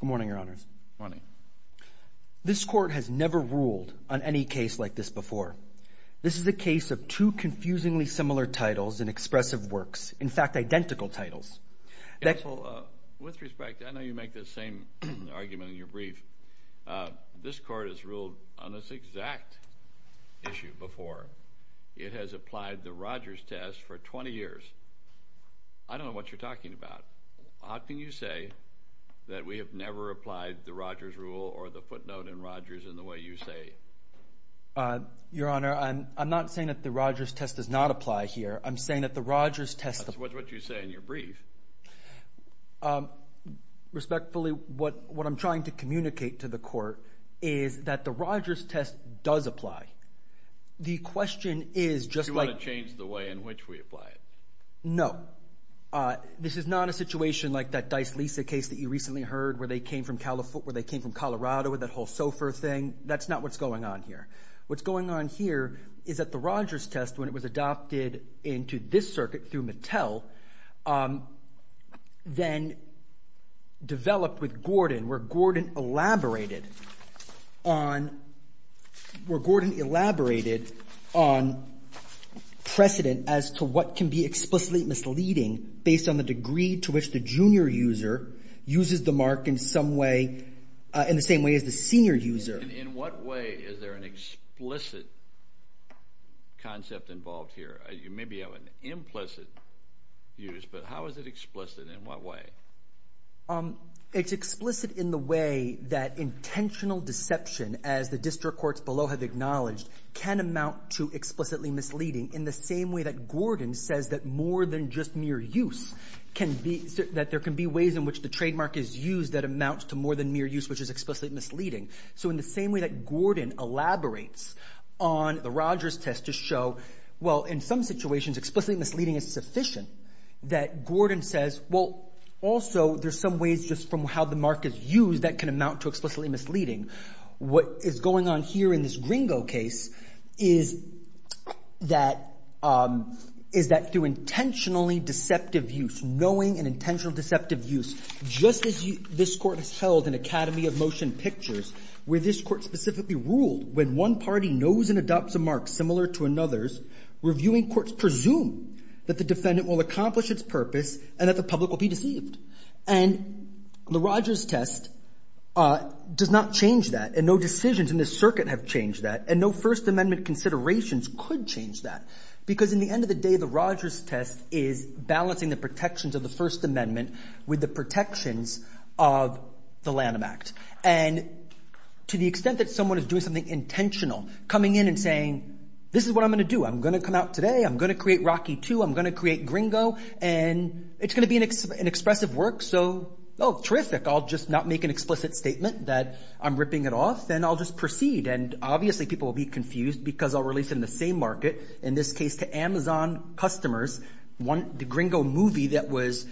Good morning, Your Honors. Good morning. This Court has never ruled on any case like this before. This is a case of two confusingly similar titles in expressive works, in fact identical titles. With respect, I know you make the same argument in your brief. This Court has ruled on this exact issue before. It has applied the Rodgers test for 20 years. I don't know what you're talking about. How can you say that we have never applied the Rodgers rule or the footnote in Rodgers in the way you say? Your Honor, I'm not saying that the Rodgers test does not apply here. I'm saying that the Rodgers test... That's what you say in your brief. Respectfully, what I'm trying to communicate to the Court is that the Rodgers test does apply. The question is just like... Do you want to change the way in which we apply it? No. This is not a situation like that Dice-Lisa case that you recently heard where they came from Colorado with that whole SOFR thing. That's not what's going on here. What's going on here is that the Rodgers test, when it was adopted into this circuit through Mattel, then developed with Gordon, where Gordon elaborated on precedent as to what can be explicitly misleading based on the degree to which the junior user uses the mark in the same way as the senior user. In what way is there an explicit concept involved here? You maybe have an implicit use, but how is it explicit and in what way? It's explicit in the way that intentional deception, as the district courts below have acknowledged, can amount to explicitly misleading in the same way that Gordon says that more than just mere use can be... That there can be ways in which the trademark is used that amounts to more than mere use, which is explicitly misleading. So in the same way that Gordon elaborates on the Rodgers test to show, well, in some situations explicitly misleading is sufficient, that Gordon says, well, also, there's some ways just from how the mark is used that can amount to explicitly misleading. What is going on here in this Gringo case is that through intentionally deceptive use, knowing an intentional deceptive use, just as this court has held an academy of motion pictures where this court specifically ruled when one party knows and adopts a mark similar to another's, reviewing courts presume that the defendant will accomplish its purpose and that the public will be deceived. And the Rodgers test does not change that, and no decisions in this circuit have changed that, and no First Amendment considerations could change that. Because in the end of the day, the Rodgers test is balancing the protections of the First Amendment with the protections of the Lanham Act. And to the extent that someone is doing something intentional, coming in and saying, this is what I'm going to do, I'm going to come out today, I'm going to create Rocky II, I'm going to create Gringo, and it's going to be an expressive work, so, oh, terrific, I'll just not make an explicit statement that I'm ripping it off, and I'll just proceed. And obviously people will be saying to the same market, in this case to Amazon customers, the Gringo movie that was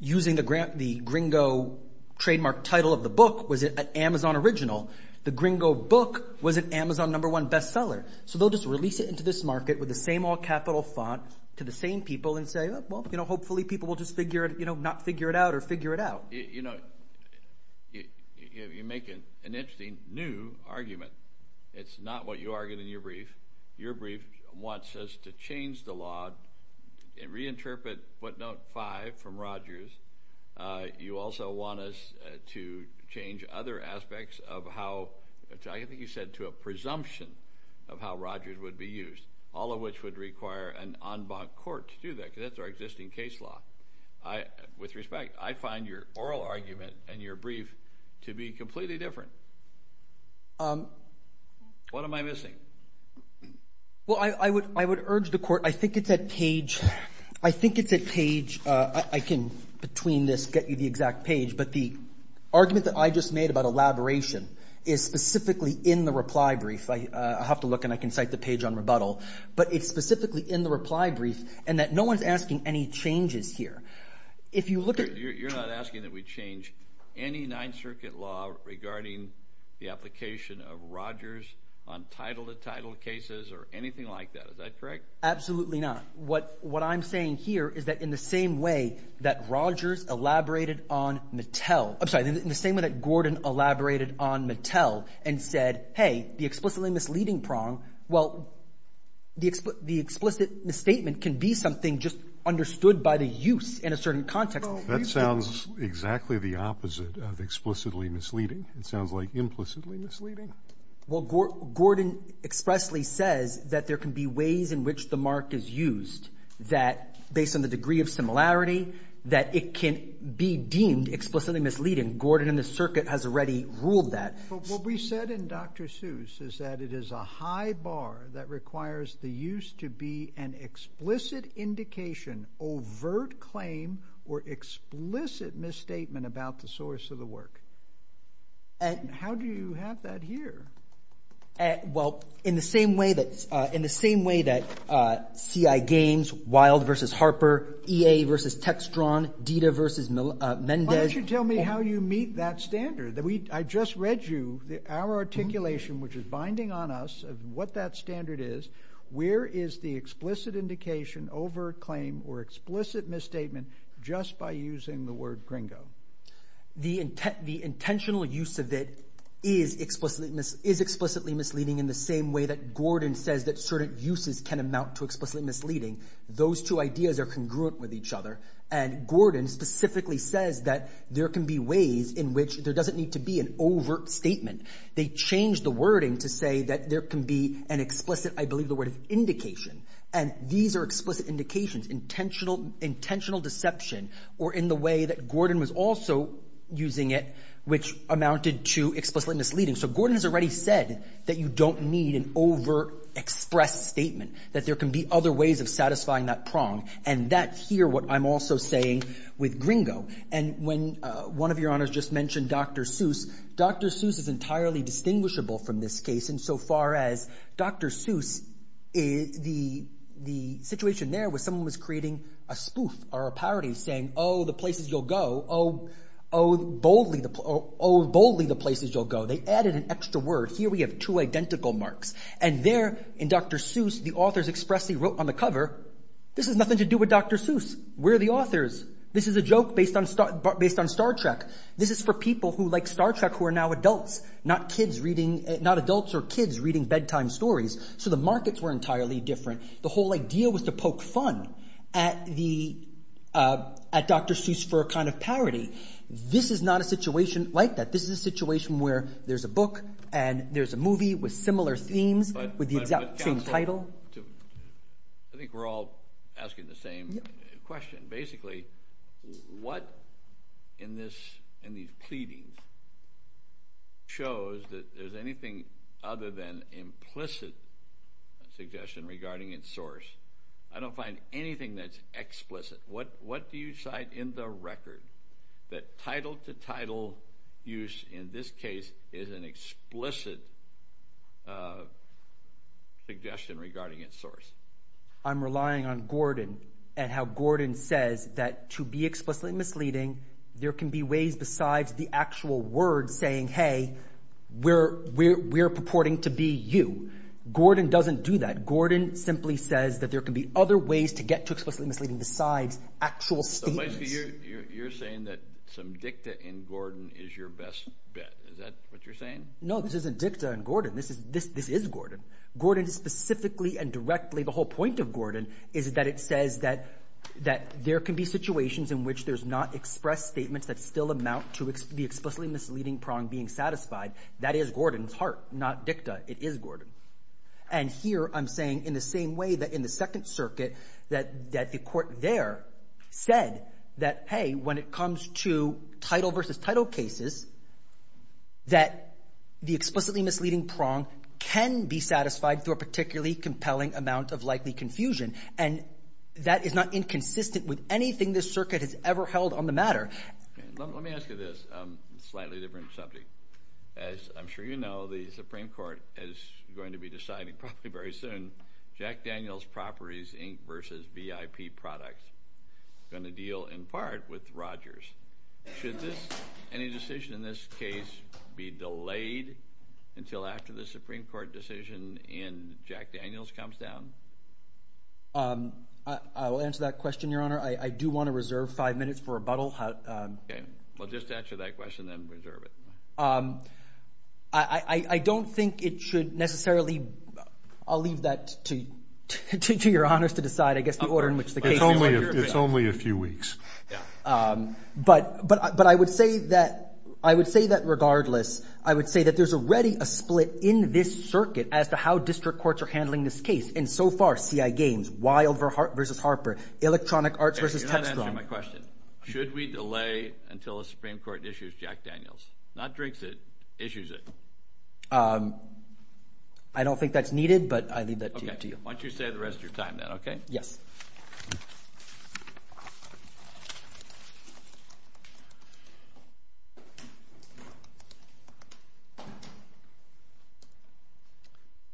using the Gringo trademark title of the book was an Amazon original. The Gringo book was an Amazon number one bestseller. So they'll just release it into this market with the same all capital font to the same people and say, well, you know, hopefully people will just figure it, you know, not figure it out or figure it out. You know, you make an interesting new argument. It's not what you argued in your brief. Your brief wants us to change the law and reinterpret footnote five from Rogers. You also want us to change other aspects of how, I think you said to a presumption of how Rogers would be used, all of which would require an en banc court to do that, because that's our existing case law. With respect, I find your oral argument and your brief to be completely different. What am I missing? Well, I would urge the court, I think it's at page, I think it's at page, I can between this get you the exact page, but the argument that I just made about elaboration is specifically in the reply brief. I have to look and I can cite the page on rebuttal, but it's specifically in the reply brief and that no one's asking any changes here. If you look at... Regarding the application of Rogers on title to title cases or anything like that, is that correct? Absolutely not. What I'm saying here is that in the same way that Rogers elaborated on Mattel, I'm sorry, in the same way that Gordon elaborated on Mattel and said, hey, the explicitly misleading prong, well, the explicit misstatement can be something just understood by the use in a certain context. That sounds exactly the opposite of explicitly misleading. It sounds like implicitly misleading. Well, Gordon expressly says that there can be ways in which the mark is used that based on the degree of similarity, that it can be deemed explicitly misleading. Gordon and the circuit has already ruled that. But what we said in Dr. Seuss is that it is a high bar that requires the use to be an overt claim or explicit misstatement about the source of the work. How do you have that here? Well, in the same way that CI Games, Wild versus Harper, EA versus Textron, DITA versus Mendez... Why don't you tell me how you meet that standard? I just read you our articulation, which is binding on us, of what that standard is. Where is the explicit indication, overt claim or explicit misstatement just by using the word gringo? The intentional use of it is explicitly misleading in the same way that Gordon says that certain uses can amount to explicitly misleading. Those two ideas are congruent with each other. And Gordon specifically says that there can be ways in which there doesn't need to be an overt statement. They change the wording to say that there can be an explicit, I believe intentional deception, or in the way that Gordon was also using it, which amounted to explicitly misleading. So Gordon has already said that you don't need an overexpressed statement, that there can be other ways of satisfying that prong. And that's here what I'm also saying with gringo. And when one of your honors just mentioned Dr. Seuss, Dr. Seuss is entirely distinguishable from this case insofar as Dr. Seuss, the situation there was someone was creating a spoof or a parody saying, oh, the places you'll go, oh, boldly the places you'll go. They added an extra word. Here we have two identical marks. And there in Dr. Seuss, the authors expressly wrote on the cover, this has nothing to do with Dr. Seuss. We're the authors. This is a joke based on Star Trek. This is for people who like Star Trek who are now adults, not kids reading, not adults or kids reading bedtime stories. So the markets were entirely different. The whole idea was to poke fun at the, at Dr. Seuss for a kind of parody. This is not a situation like that. This is a situation where there's a book and there's a movie with similar themes with the exact same title. I think we're all asking the same question. Basically, what in this, in these pleadings shows that there's anything other than implicit suggestion regarding its source? I don't find anything that's explicit. What, what do you cite in the record that title to title use in this case is an explicit suggestion regarding its source? I'm relying on Gordon and how Gordon says that to be explicitly misleading, there can be ways besides the actual word saying, Hey, we're, we're, we're purporting to be you. Gordon doesn't do that. Gordon simply says that there can be other ways to get to explicitly misleading besides actual you're saying that some dicta in Gordon is your best bet. Is that what you're saying? No, this isn't dicta and Gordon. This is, this, this is Gordon. Gordon is specifically and directly. The whole point of Gordon is that it says that, that there can be situations in which there's not expressed statements that still amount to the explicitly misleading prong being satisfied. That is Gordon's heart, not dicta. It is Gordon. And here I'm saying in the same way that in the second circuit, that, that the court there said that, Hey, when it comes to title versus title cases, that the explicitly misleading prong can be satisfied through a particularly compelling amount of likely confusion. And that is not inconsistent with anything this circuit has ever held on the matter. Let me ask you this slightly different subject. As I'm sure you know, the Supreme Court is going to be deciding probably very soon, Jack Daniels Properties Inc. versus VIP Products going to deal in part with Rogers. Should this, any decision in this case be delayed until after the Supreme Court decision in Jack Daniels comes down? Um, I, I will answer that question, Your Honor. I, I do want to reserve five minutes for rebuttal. Okay. Well, just answer that question then and reserve it. Um, I, I, I don't think it should necessarily, I'll leave that to, to, to your honors to decide, I guess, the order in which the case is under review. It's only a few weeks. Yeah. Um, but, but, but I would say that I would say that regardless, I would say that there's already a split in this circuit as to how district courts are handling this case. And so far, CI Games, Wild versus Harper, Electronic Arts versus Textron. You're not the Supreme Court issues Jack Daniels. Not drinks it, issues it. Um, I don't think that's needed, but I leave that to you. Okay. Why don't you stay the rest of your time then, okay? Yes.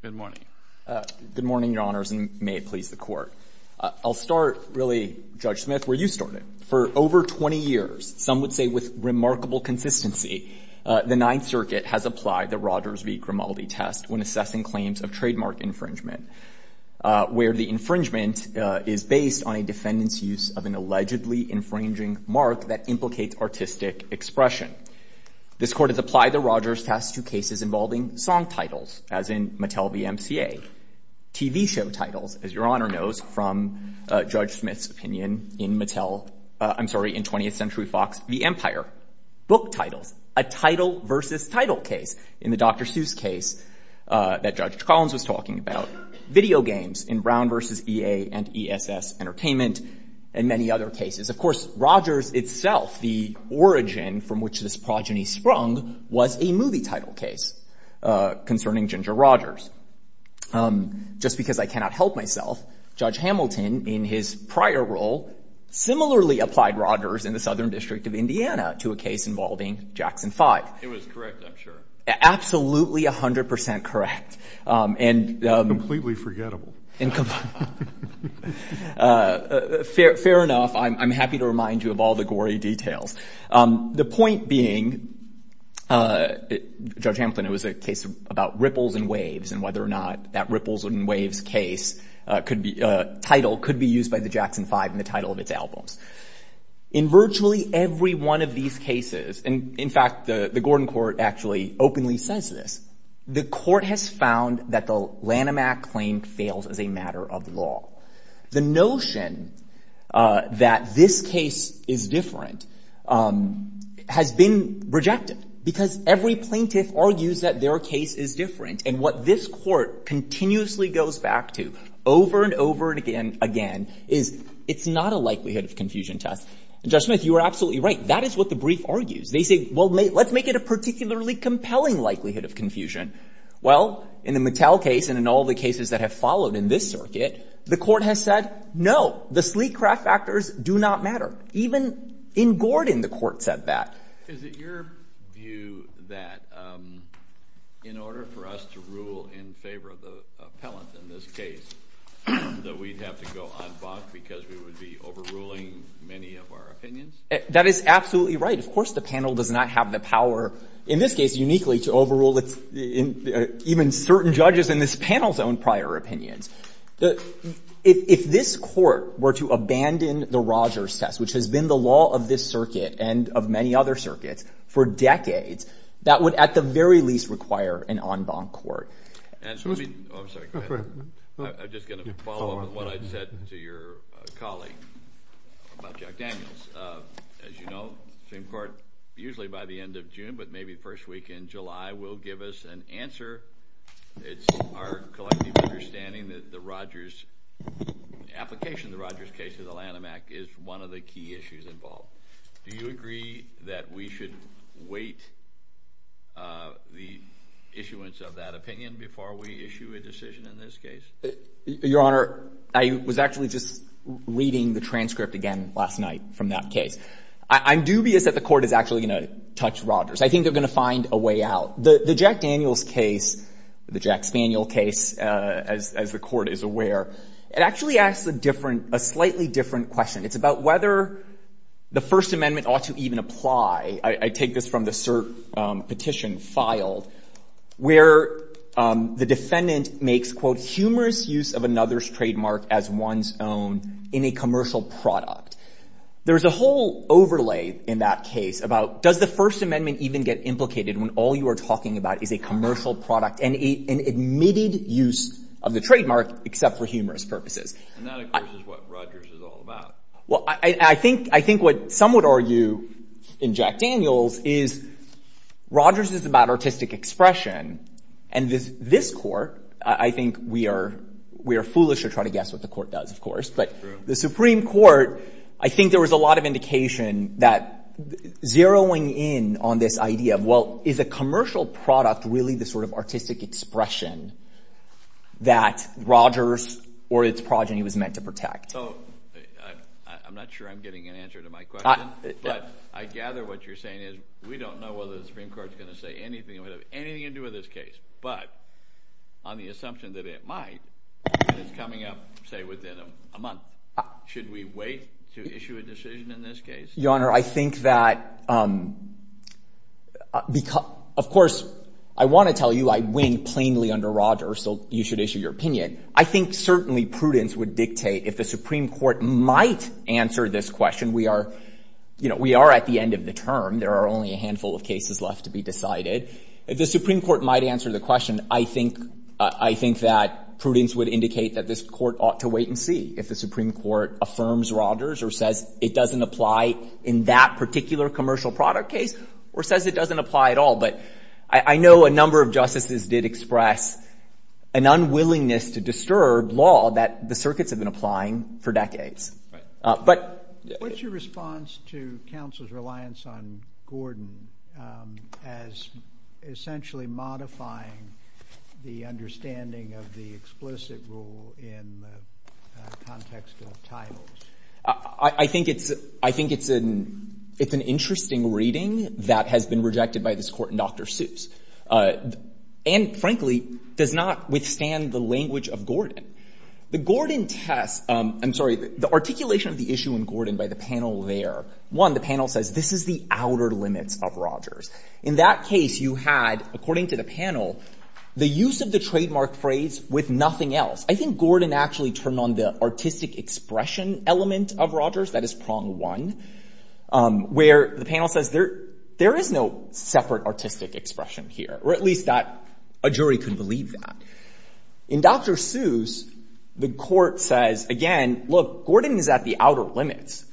Good morning. Uh, good morning, Your Honors, and may it please the Court. I'll start really, Judge Smith, where you started. For over 20 years, some would say with remarkable consistency, uh, the Ninth Circuit has applied the Rogers v. Grimaldi test when assessing claims of trademark infringement, uh, where the infringement, uh, is based on a defendant's use of an allegedly infringing mark that implicates artistic expression. This Court has applied the Rogers test to cases involving song titles, as in Mattel v. MCA, TV show titles, as Your Honor knows from, uh, Judge Smith's opinion in Mattel, uh, I'm sorry, in 20th Century Fox v. Empire, book titles, a title versus title case in the Dr. Seuss case, uh, that Judge Collins was talking about, video games in Brown versus EA and ESS Entertainment, and many other cases. Of course, Rogers itself, the origin from which this progeny sprung, was a movie title case, uh, concerning Ginger Rogers. Um, just because I cannot help myself, Judge Hamilton, in his prior role, similarly applied Rogers in the Southern District of Indiana to a case involving Jackson 5. It was correct, I'm sure. Absolutely 100% correct. Um, and, um. Completely forgettable. And, uh, fair, fair enough. I'm, I'm happy to remind you of all the gory details. Um, the point being, uh, Judge Hamilton, it was a case about Ripples and Waves, and whether or not that Ripples and Waves case, uh, could be, uh, title could be used by the Jackson 5 in the title of its albums. In virtually every one of these cases, and in fact, the, the Gordon Court actually openly says this, the Court has found that the Lanham Act claim fails as a matter of law. The notion, uh, that this case is different, um, has been rejected. Because every plaintiff argues that their case is different, and what this Court continuously goes back to, over and over again, again, is, it's not a likelihood of confusion test. And Judge Smith, you are absolutely right. That is what the brief argues. They say, well, let's make it a particularly compelling likelihood of confusion. Well, in the Mattel case, and in all the cases that have followed in this circuit, the Court has said, no, the sleek craft factors do not matter. Even in Gordon, the Court said that. Is it your view that, um, in order for us to rule in favor of the appellant in this case, that we'd have to go on Bach because we would be overruling many of our opinions? That is absolutely right. Of course, the panel does not have the power, in this case, uniquely to overrule even certain judges in this panel's own prior opinions. If this Court were to abandon the Rogers test, which has been the law of this circuit, and of many other circuits, for decades, that would, at the very least, require an en banc court. I'm sorry, go ahead. I'm just going to follow up on what I said to your colleague about Jack Daniels. As you know, Supreme Court, usually by the end of June, but maybe first week in July, will give us an answer. It's our collective understanding that the Rogers application, the Rogers case of the Lanham Act, is one of the key issues involved. Do you agree that we should wait the issuance of that opinion before we issue a decision in this case? Your Honor, I was actually just reading the transcript again last night from that case. I'm dubious that the Court is actually going to touch Rogers. I think they're going to find a way out. The Jack Daniels case, the Jack Spaniel case, as the Court is aware, it actually asks a slightly different question. It's about whether the First Amendment ought to even apply. I take this from the cert petition filed, where the defendant makes, quote, humorous use of another's trademark as one's own in a commercial product. There's a whole overlay in that case about, does the First Amendment even get implicated when all you are talking about is a commercial product and an admitted use of the trademark except for humorous purposes? And that, of course, is what Rogers is all about. Well, I think what some would argue in Jack Daniels is Rogers is about artistic expression. And this Court, I think we are foolish to try to guess what the Court does, of course. True. The Supreme Court, I think there was a lot of indication that zeroing in on this idea of, well, is a commercial product really the sort of artistic expression that Rogers or its progeny was meant to protect? So, I'm not sure I'm getting an answer to my question, but I gather what you're saying is we don't know whether the Supreme Court is going to say anything that would have anything to do with this case, but on the assumption that it might, it's coming up, say, within a month. Should we wait to issue a decision in this case? Your Honor, I think that, of course, I want to tell you I win plainly under Rogers, so you should issue your opinion. I think certainly prudence would dictate, if the Supreme Court might answer this question, we are at the end of the term. There are only a handful of cases left to be decided. If the Supreme Court might answer the question, I think that prudence would indicate that this Court ought to wait and see if the Supreme Court affirms Rogers or says it doesn't apply in that particular commercial product case or says it doesn't apply at all, but I know a number of justices did express an unwillingness to disturb law that the circuits have been applying for decades. But – What's your response to counsel's reliance on Gordon as essentially modifying the understanding of the explicit rule in the context of titles? I think it's an interesting reading that has been rejected by this Court in Dr. Seuss and frankly does not withstand the language of Gordon. The Gordon test – I'm sorry, the articulation of the issue in Gordon by the panel there, one, the panel says this is the outer limits of Rogers. In that case, you had, according to the panel, the use of the trademark phrase with nothing else. I think Gordon actually turned on the artistic expression element of Rogers, that is prong one, where the panel says there is no separate artistic expression here, or at least that a jury could believe that. In Dr. Seuss, the Court says, again, look, Gordon is at the outer limits.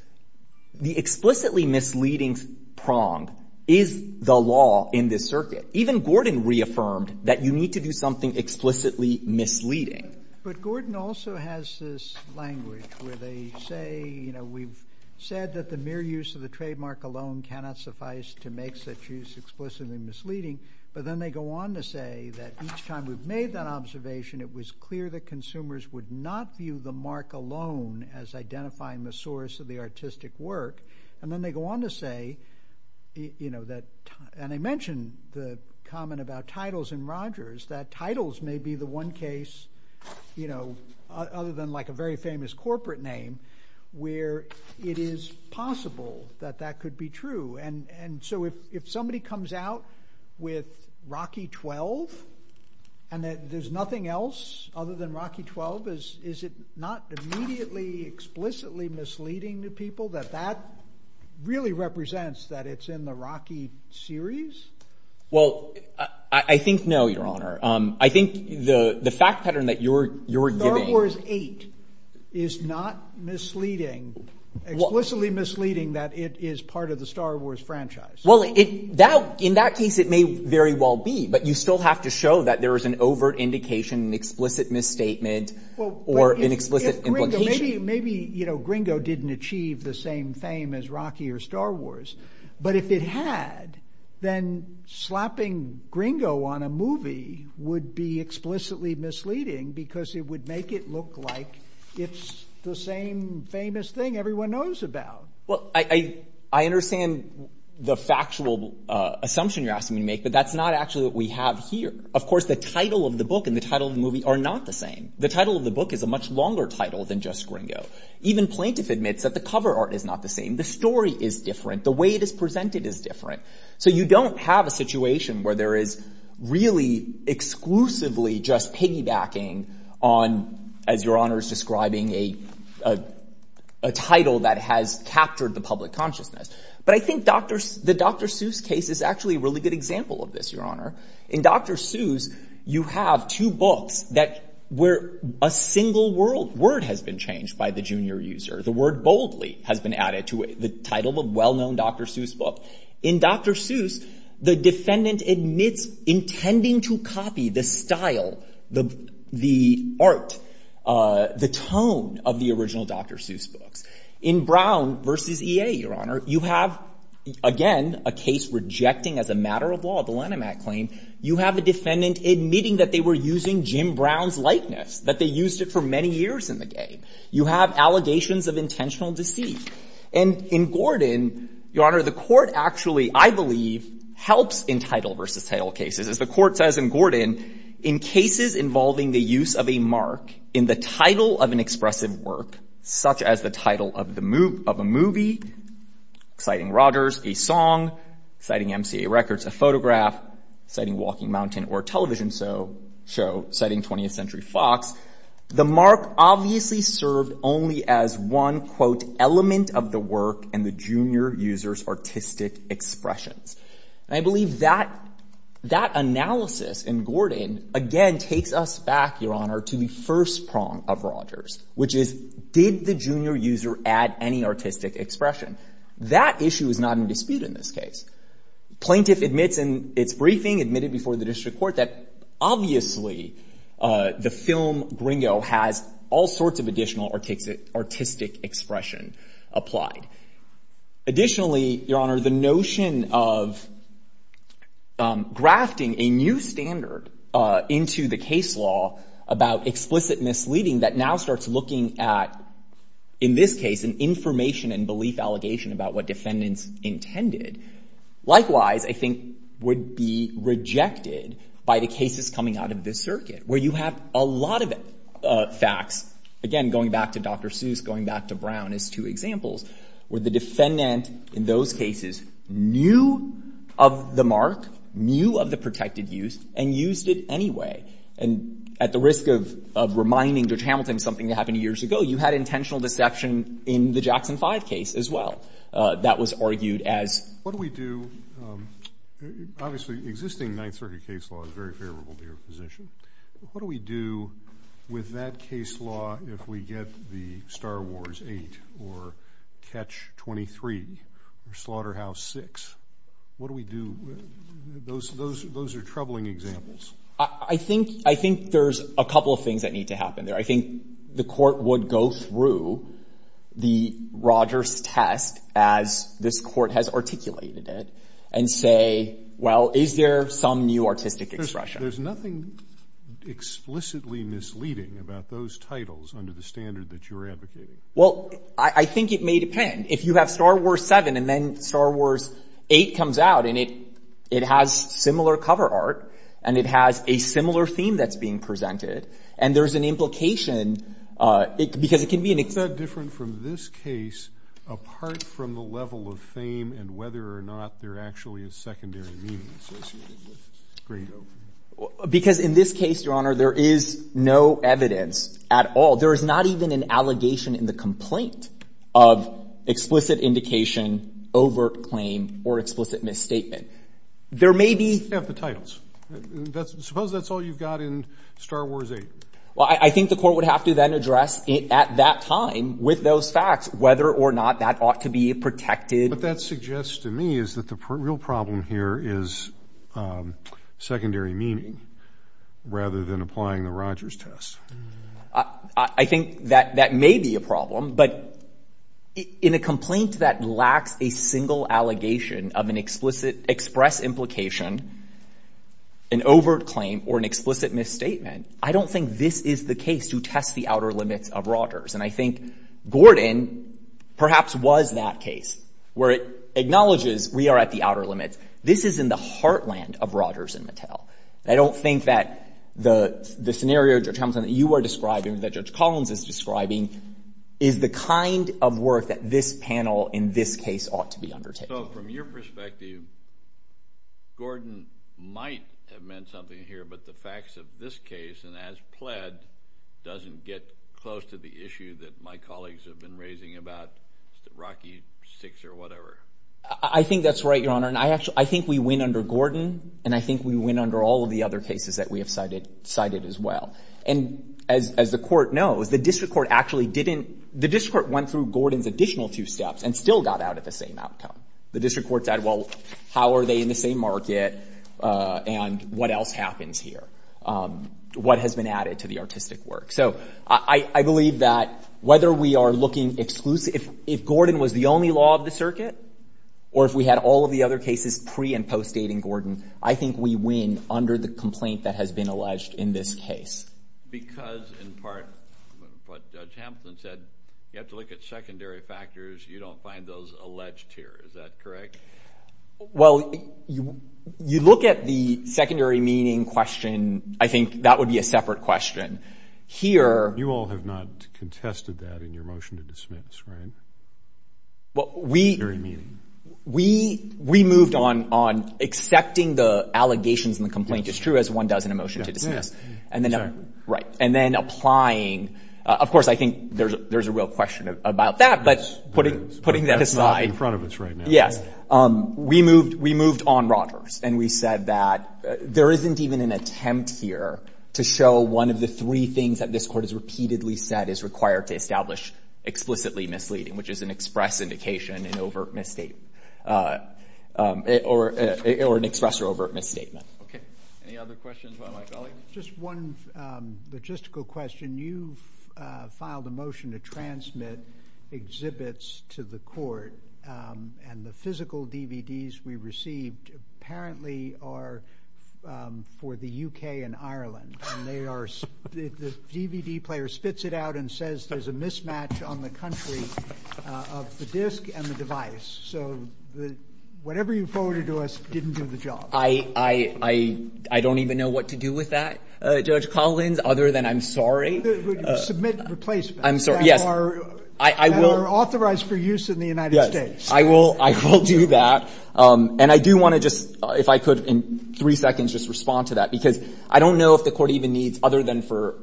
The explicitly misleading prong is the law in this circuit. Even Gordon reaffirmed that you need to do something explicitly misleading. But Gordon also has this language where they say, you know, we've said that the mere use of the trademark alone cannot suffice to make such use explicitly misleading, but then they go on to say that each time we've made that observation, it was clear that consumers would not view the mark alone as identifying the source of the artistic work. And then they go on to say, you know, that – and I mentioned the comment about titles in Rogers, that titles may be the one case, you know, other than like a very famous corporate name where it is possible that that could be true. And so if somebody comes out with Rocky 12 and that there's nothing else other than Rocky 12, is it not immediately explicitly misleading to people that that really represents that it's in the Rocky series? Well, I think no, Your Honor. I think the fact pattern that you're giving – Star Wars 8 is not misleading, explicitly misleading that it is part of the Star Wars franchise. Well, in that case, it may very well be, but you still have to show that there is an overt indication, an explicit misstatement, or an explicit implication. Maybe, you know, Gringo didn't achieve the same fame as Rocky or Star Wars. But if it had, then slapping Gringo on a movie would be explicitly misleading because it would make it look like it's the same famous thing everyone knows about. Well, I understand the factual assumption you're asking me to make, but that's not actually what we have here. Of course, the title of the book and the title of the movie are not the same. The title of the book is a much longer title than just Gringo. Even Plaintiff admits that the cover art is not the same. The story is different. The way it is presented is different. So you don't have a situation where there is really exclusively just piggybacking on, as Your Honor is describing, a title that has captured the public consciousness. But I think the Dr. Seuss case is actually a really good example of this, Your Honor. In Dr. Seuss, you have two books where a single word has been changed by the junior user. The word boldly has been added to the title of a well-known Dr. Seuss book. In Dr. Seuss, the defendant admits intending to copy the style, the art, the tone of the original Dr. Seuss books. In Brown versus EA, Your Honor, you have, again, a case rejecting as a matter of law the Lennimat claim. You have a defendant admitting that they were using Jim Brown's likeness, that they used it for many years in the game. You have allegations of intentional deceit. And in Gordon, Your Honor, the court actually, I believe, helps in title versus title cases. As the court says in Gordon, in cases involving the use of a mark in the title of an expressive work, such as the title of a movie, Exciting Rogers, a song, Exciting MCA Records, a photograph, Exciting Walking Mountain, or a television show, Exciting 20th Century Fox, the mark obviously served only as one, quote, element of the work and the junior user's artistic expressions. And I believe that analysis in Gordon, again, takes us back, Your Honor, to the first prong of Rogers, which is, did the junior user add any artistic expression? That issue is not in dispute in this case. Plaintiff admits in its briefing, admitted before the district court, that obviously the film Gringo has all sorts of additional artistic expression applied. Additionally, Your Honor, the notion of grafting a new standard into the case law about explicit misleading that now starts looking at, in this case, an information and belief allegation about what defendants intended, likewise, I think, would be rejected by the cases coming out of this circuit, where you have a lot of facts, again, going back to Dr. Seuss, going back to Brown as two examples, where the defendant in those cases knew of the mark, knew of the protected use, and used it anyway. And at the risk of reminding Judge Hamilton something that happened years ago, you had that was argued as... What do we do... Obviously, the existing Ninth Circuit case law is very favorable to your position. What do we do with that case law if we get the Star Wars 8 or Catch-23 or Slaughterhouse 6? What do we do? Those are troubling examples. I think there's a couple of things that need to happen there. I think the court would go through the Rogers test, as this court has articulated it, and say, well, is there some new artistic expression? There's nothing explicitly misleading about those titles under the standard that you're advocating. Well, I think it may depend. If you have Star Wars 7, and then Star Wars 8 comes out, and it has similar cover art, and it has a similar theme that's being presented, and there's an implication, because it can be an... What's that different from this case, apart from the level of fame and whether or not there actually is secondary meaning associated with Gringo? Because in this case, Your Honor, there is no evidence at all. There is not even an allegation in the complaint of explicit indication, overt claim, or explicit misstatement. There may be... You just have the titles. Suppose that's all you've got in Star Wars 8. Well, I think the court would have to then address it at that time with those facts, whether or not that ought to be protected. What that suggests to me is that the real problem here is secondary meaning, rather than applying the Rogers test. I think that that may be a problem, but in a complaint that lacks a single allegation of an explicit express implication, an overt claim, or an explicit misstatement, I don't think this is the case to test the outer limits of Rogers. And I think Gordon perhaps was that case, where it acknowledges we are at the outer limits. This is in the heartland of Rogers and Mattel. I don't think that the scenario, Judge Hamilton, that you are describing, that Judge Collins is describing, is the kind of work that this panel in this case ought to be undertaking. So from your perspective, Gordon might have meant something here, but the facts of this case, and as pled, doesn't get close to the issue that my colleagues have been raising about Rocky VI or whatever. I think that's right, Your Honor. And I think we win under Gordon, and I think we win under all of the other cases that we have cited as well. And as the court knows, the district court actually didn't... The district court went through Gordon's additional two steps and still got out at the same outcome. The district court said, well, how are they in the same market and what else happens here? What has been added to the artistic work? So I believe that whether we are looking exclusively... If Gordon was the only law of the circuit, or if we had all of the other cases pre- and post-dating Gordon, I think we win under the complaint that has been alleged in this case. Because, in part, what Judge Hampton said, you have to look at secondary factors. You don't find those alleged here, is that correct? Well, you look at the secondary meaning question, I think that would be a separate question. Here... You all have not contested that in your motion to dismiss, right? We moved on accepting the allegations in the complaint as true as one does in a motion to dismiss. Exactly. Right. And then applying... Of course, I think there's a real question about that, but putting that aside... That's not in front of us right now. Yes. We moved on Rogers, and we said that there isn't even an attempt here to show one of the three things that this court has repeatedly said is required to establish explicitly misleading, which is an express indication, an overt misstatement, or an express or overt misstatement. Okay. Any other questions about my colleague? Just one logistical question. You filed a motion to transmit exhibits to the court, and the physical DVDs we received apparently are for the UK and Ireland, and the DVD player spits it out and says there's a mismatch on the country of the disc and the device, so whatever you forwarded to us didn't do the job. I don't even know what to do with that, Judge Collins, other than I'm sorry. Submit replacements... I'm sorry. Yes. ...that are authorized for use in the United States. Yes. I will do that, and I do want to just, if I could, in three seconds, just respond to that, because I don't know if the court even needs, other than for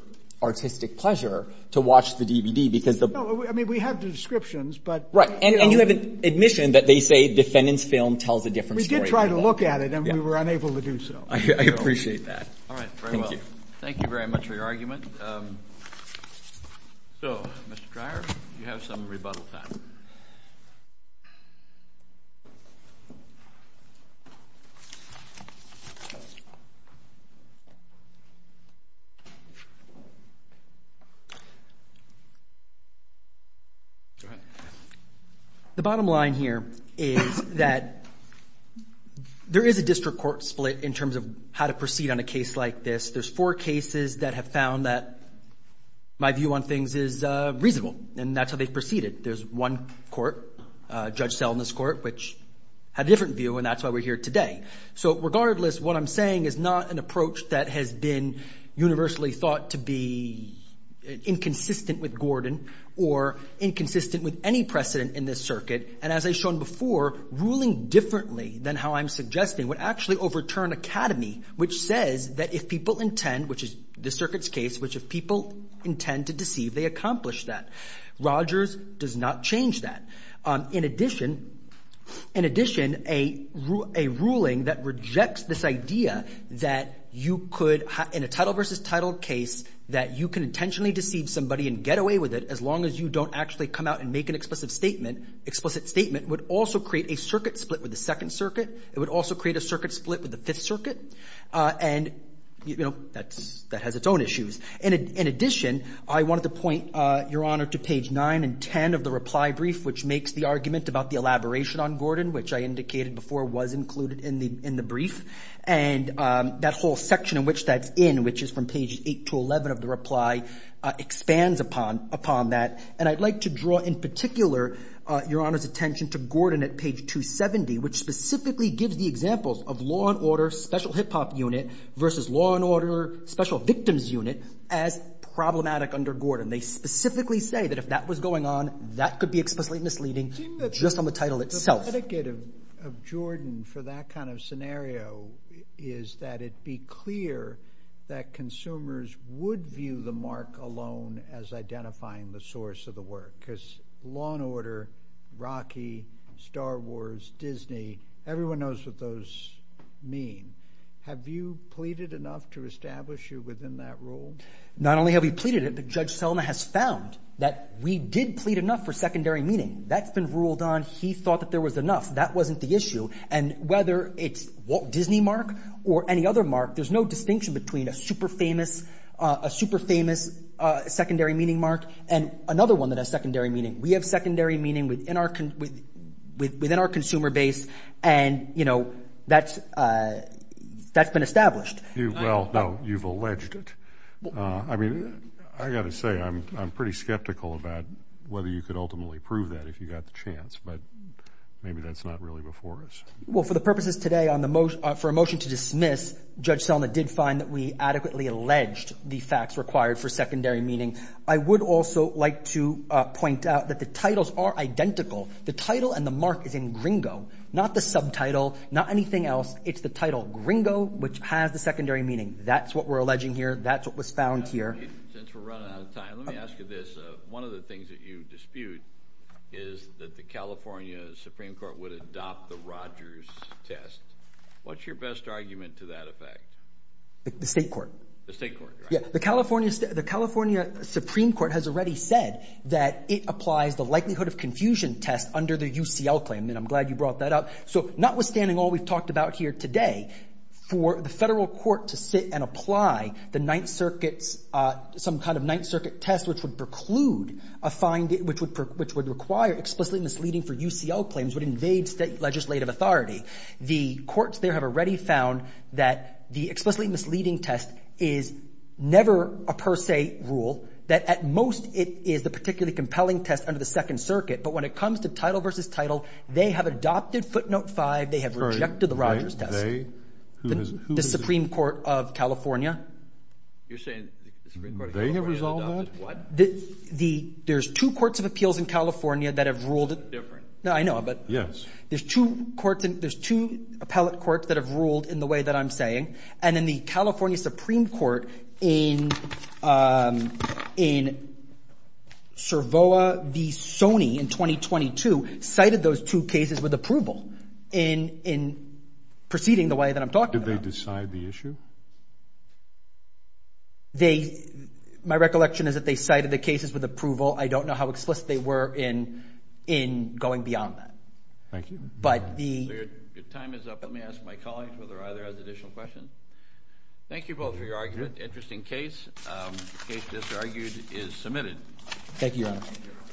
artistic pleasure, to watch the DVD, because the... No, I mean, we have the descriptions, but... Right. And you have admission that they say defendant's film tells a different story. We tried to look at it, and we were unable to do so. I appreciate that. All right. Very well. Thank you. Thank you very much for your argument. So, Mr. Dreyer, you have some rebuttal time. Go ahead. The bottom line here is that there is a district court split in terms of how to proceed on a case like this. There's four cases that have found that my view on things is reasonable, and that's how they've proceeded. There's one court, Judge Selden's court, which had a different view, and that's why we're here today. So, regardless, what I'm saying is not an approach that has been universally thought to be inconsistent with Gordon or inconsistent with any precedent in this circuit. And as I've shown before, ruling differently than how I'm suggesting would actually overturn Academy, which says that if people intend, which is this circuit's case, which if people intend to deceive, they accomplish that. Rogers does not change that. In addition, a ruling that rejects this idea that you could, in a title versus title case, that you can intentionally deceive somebody and get away with it as long as you don't actually come out and make an explicit statement, would also create a circuit split with the Second Circuit. It would also create a circuit split with the Fifth Circuit, and that has its own issues. In addition, I wanted to point, Your Honor, to page 9 and 10 of the reply brief, which makes the argument about the elaboration on Gordon, which I indicated before was included in the brief. And that whole section in which that's in, which is from page 8 to 11 of the reply, expands upon that. And I'd like to draw, in particular, Your Honor's attention to Gordon at page 270, which specifically gives the examples of law and order, special hip-hop unit, versus law and order, special victims unit, as problematic under Gordon. They specifically say that if that was going on, that could be explicitly misleading just on the title itself. The etiquette of Gordon for that kind of scenario is that it be clear that consumers would view the mark alone as identifying the source of the work, because law and order, Rocky, Star Wars, Disney, everyone knows what those mean. Have you pleaded enough to establish you within that rule? Not only have we pleaded it, but Judge Selma has found that we did plead enough for secondary meaning. That's been ruled on. He thought that there was enough. That wasn't the issue. And whether it's Walt Disney mark or any other mark, there's no distinction between a super famous secondary meaning mark and another one that has secondary meaning. We have secondary meaning within our consumer base, and, you know, that's been established. Well, now, you've alleged it. I mean, I've got to say, I'm pretty skeptical about whether you could ultimately prove that if you got the chance, but maybe that's not really before us. Well, for the purposes today, for a motion to dismiss, Judge Selma did find that we adequately alleged the facts required for secondary meaning. I would also like to point out that the titles are identical. The title and the mark is in gringo, not the subtitle, not anything else. It's the title gringo, which has the secondary meaning. That's what we're alleging here. That's what was found here. Since we're running out of time, let me ask you this. One of the things that you dispute is that the California Supreme Court would adopt the Rogers test. What's your best argument to that effect? The state court. The state court, right? Yeah. The California Supreme Court has already said that it applies the likelihood of confusion test under the UCL claim, and I'm glad you brought that up. So notwithstanding all we've talked about here today, for the federal court to sit and which would preclude, which would require explicitly misleading for UCL claims would invade state legislative authority. The courts there have already found that the explicitly misleading test is never a per se rule, that at most it is the particularly compelling test under the Second Circuit, but when it comes to title versus title, they have adopted footnote five, they have rejected the Rogers test. The Supreme Court of California? You're saying the Supreme Court of California has adopted what? There's two courts of appeals in California that have ruled it. Different. No, I know, but. Yes. There's two appellate courts that have ruled in the way that I'm saying, and then the California Supreme Court in Cervoa v. Sony in 2022 cited those two cases with approval in proceeding Did they decide the issue? They, my recollection is that they cited the cases with approval. I don't know how explicit they were in, in going beyond that. Thank you. But the. Your time is up. Let me ask my colleagues whether either has additional questions. Thank you both for your argument. Interesting case. Case disargued is submitted. Thank you, Your Honor.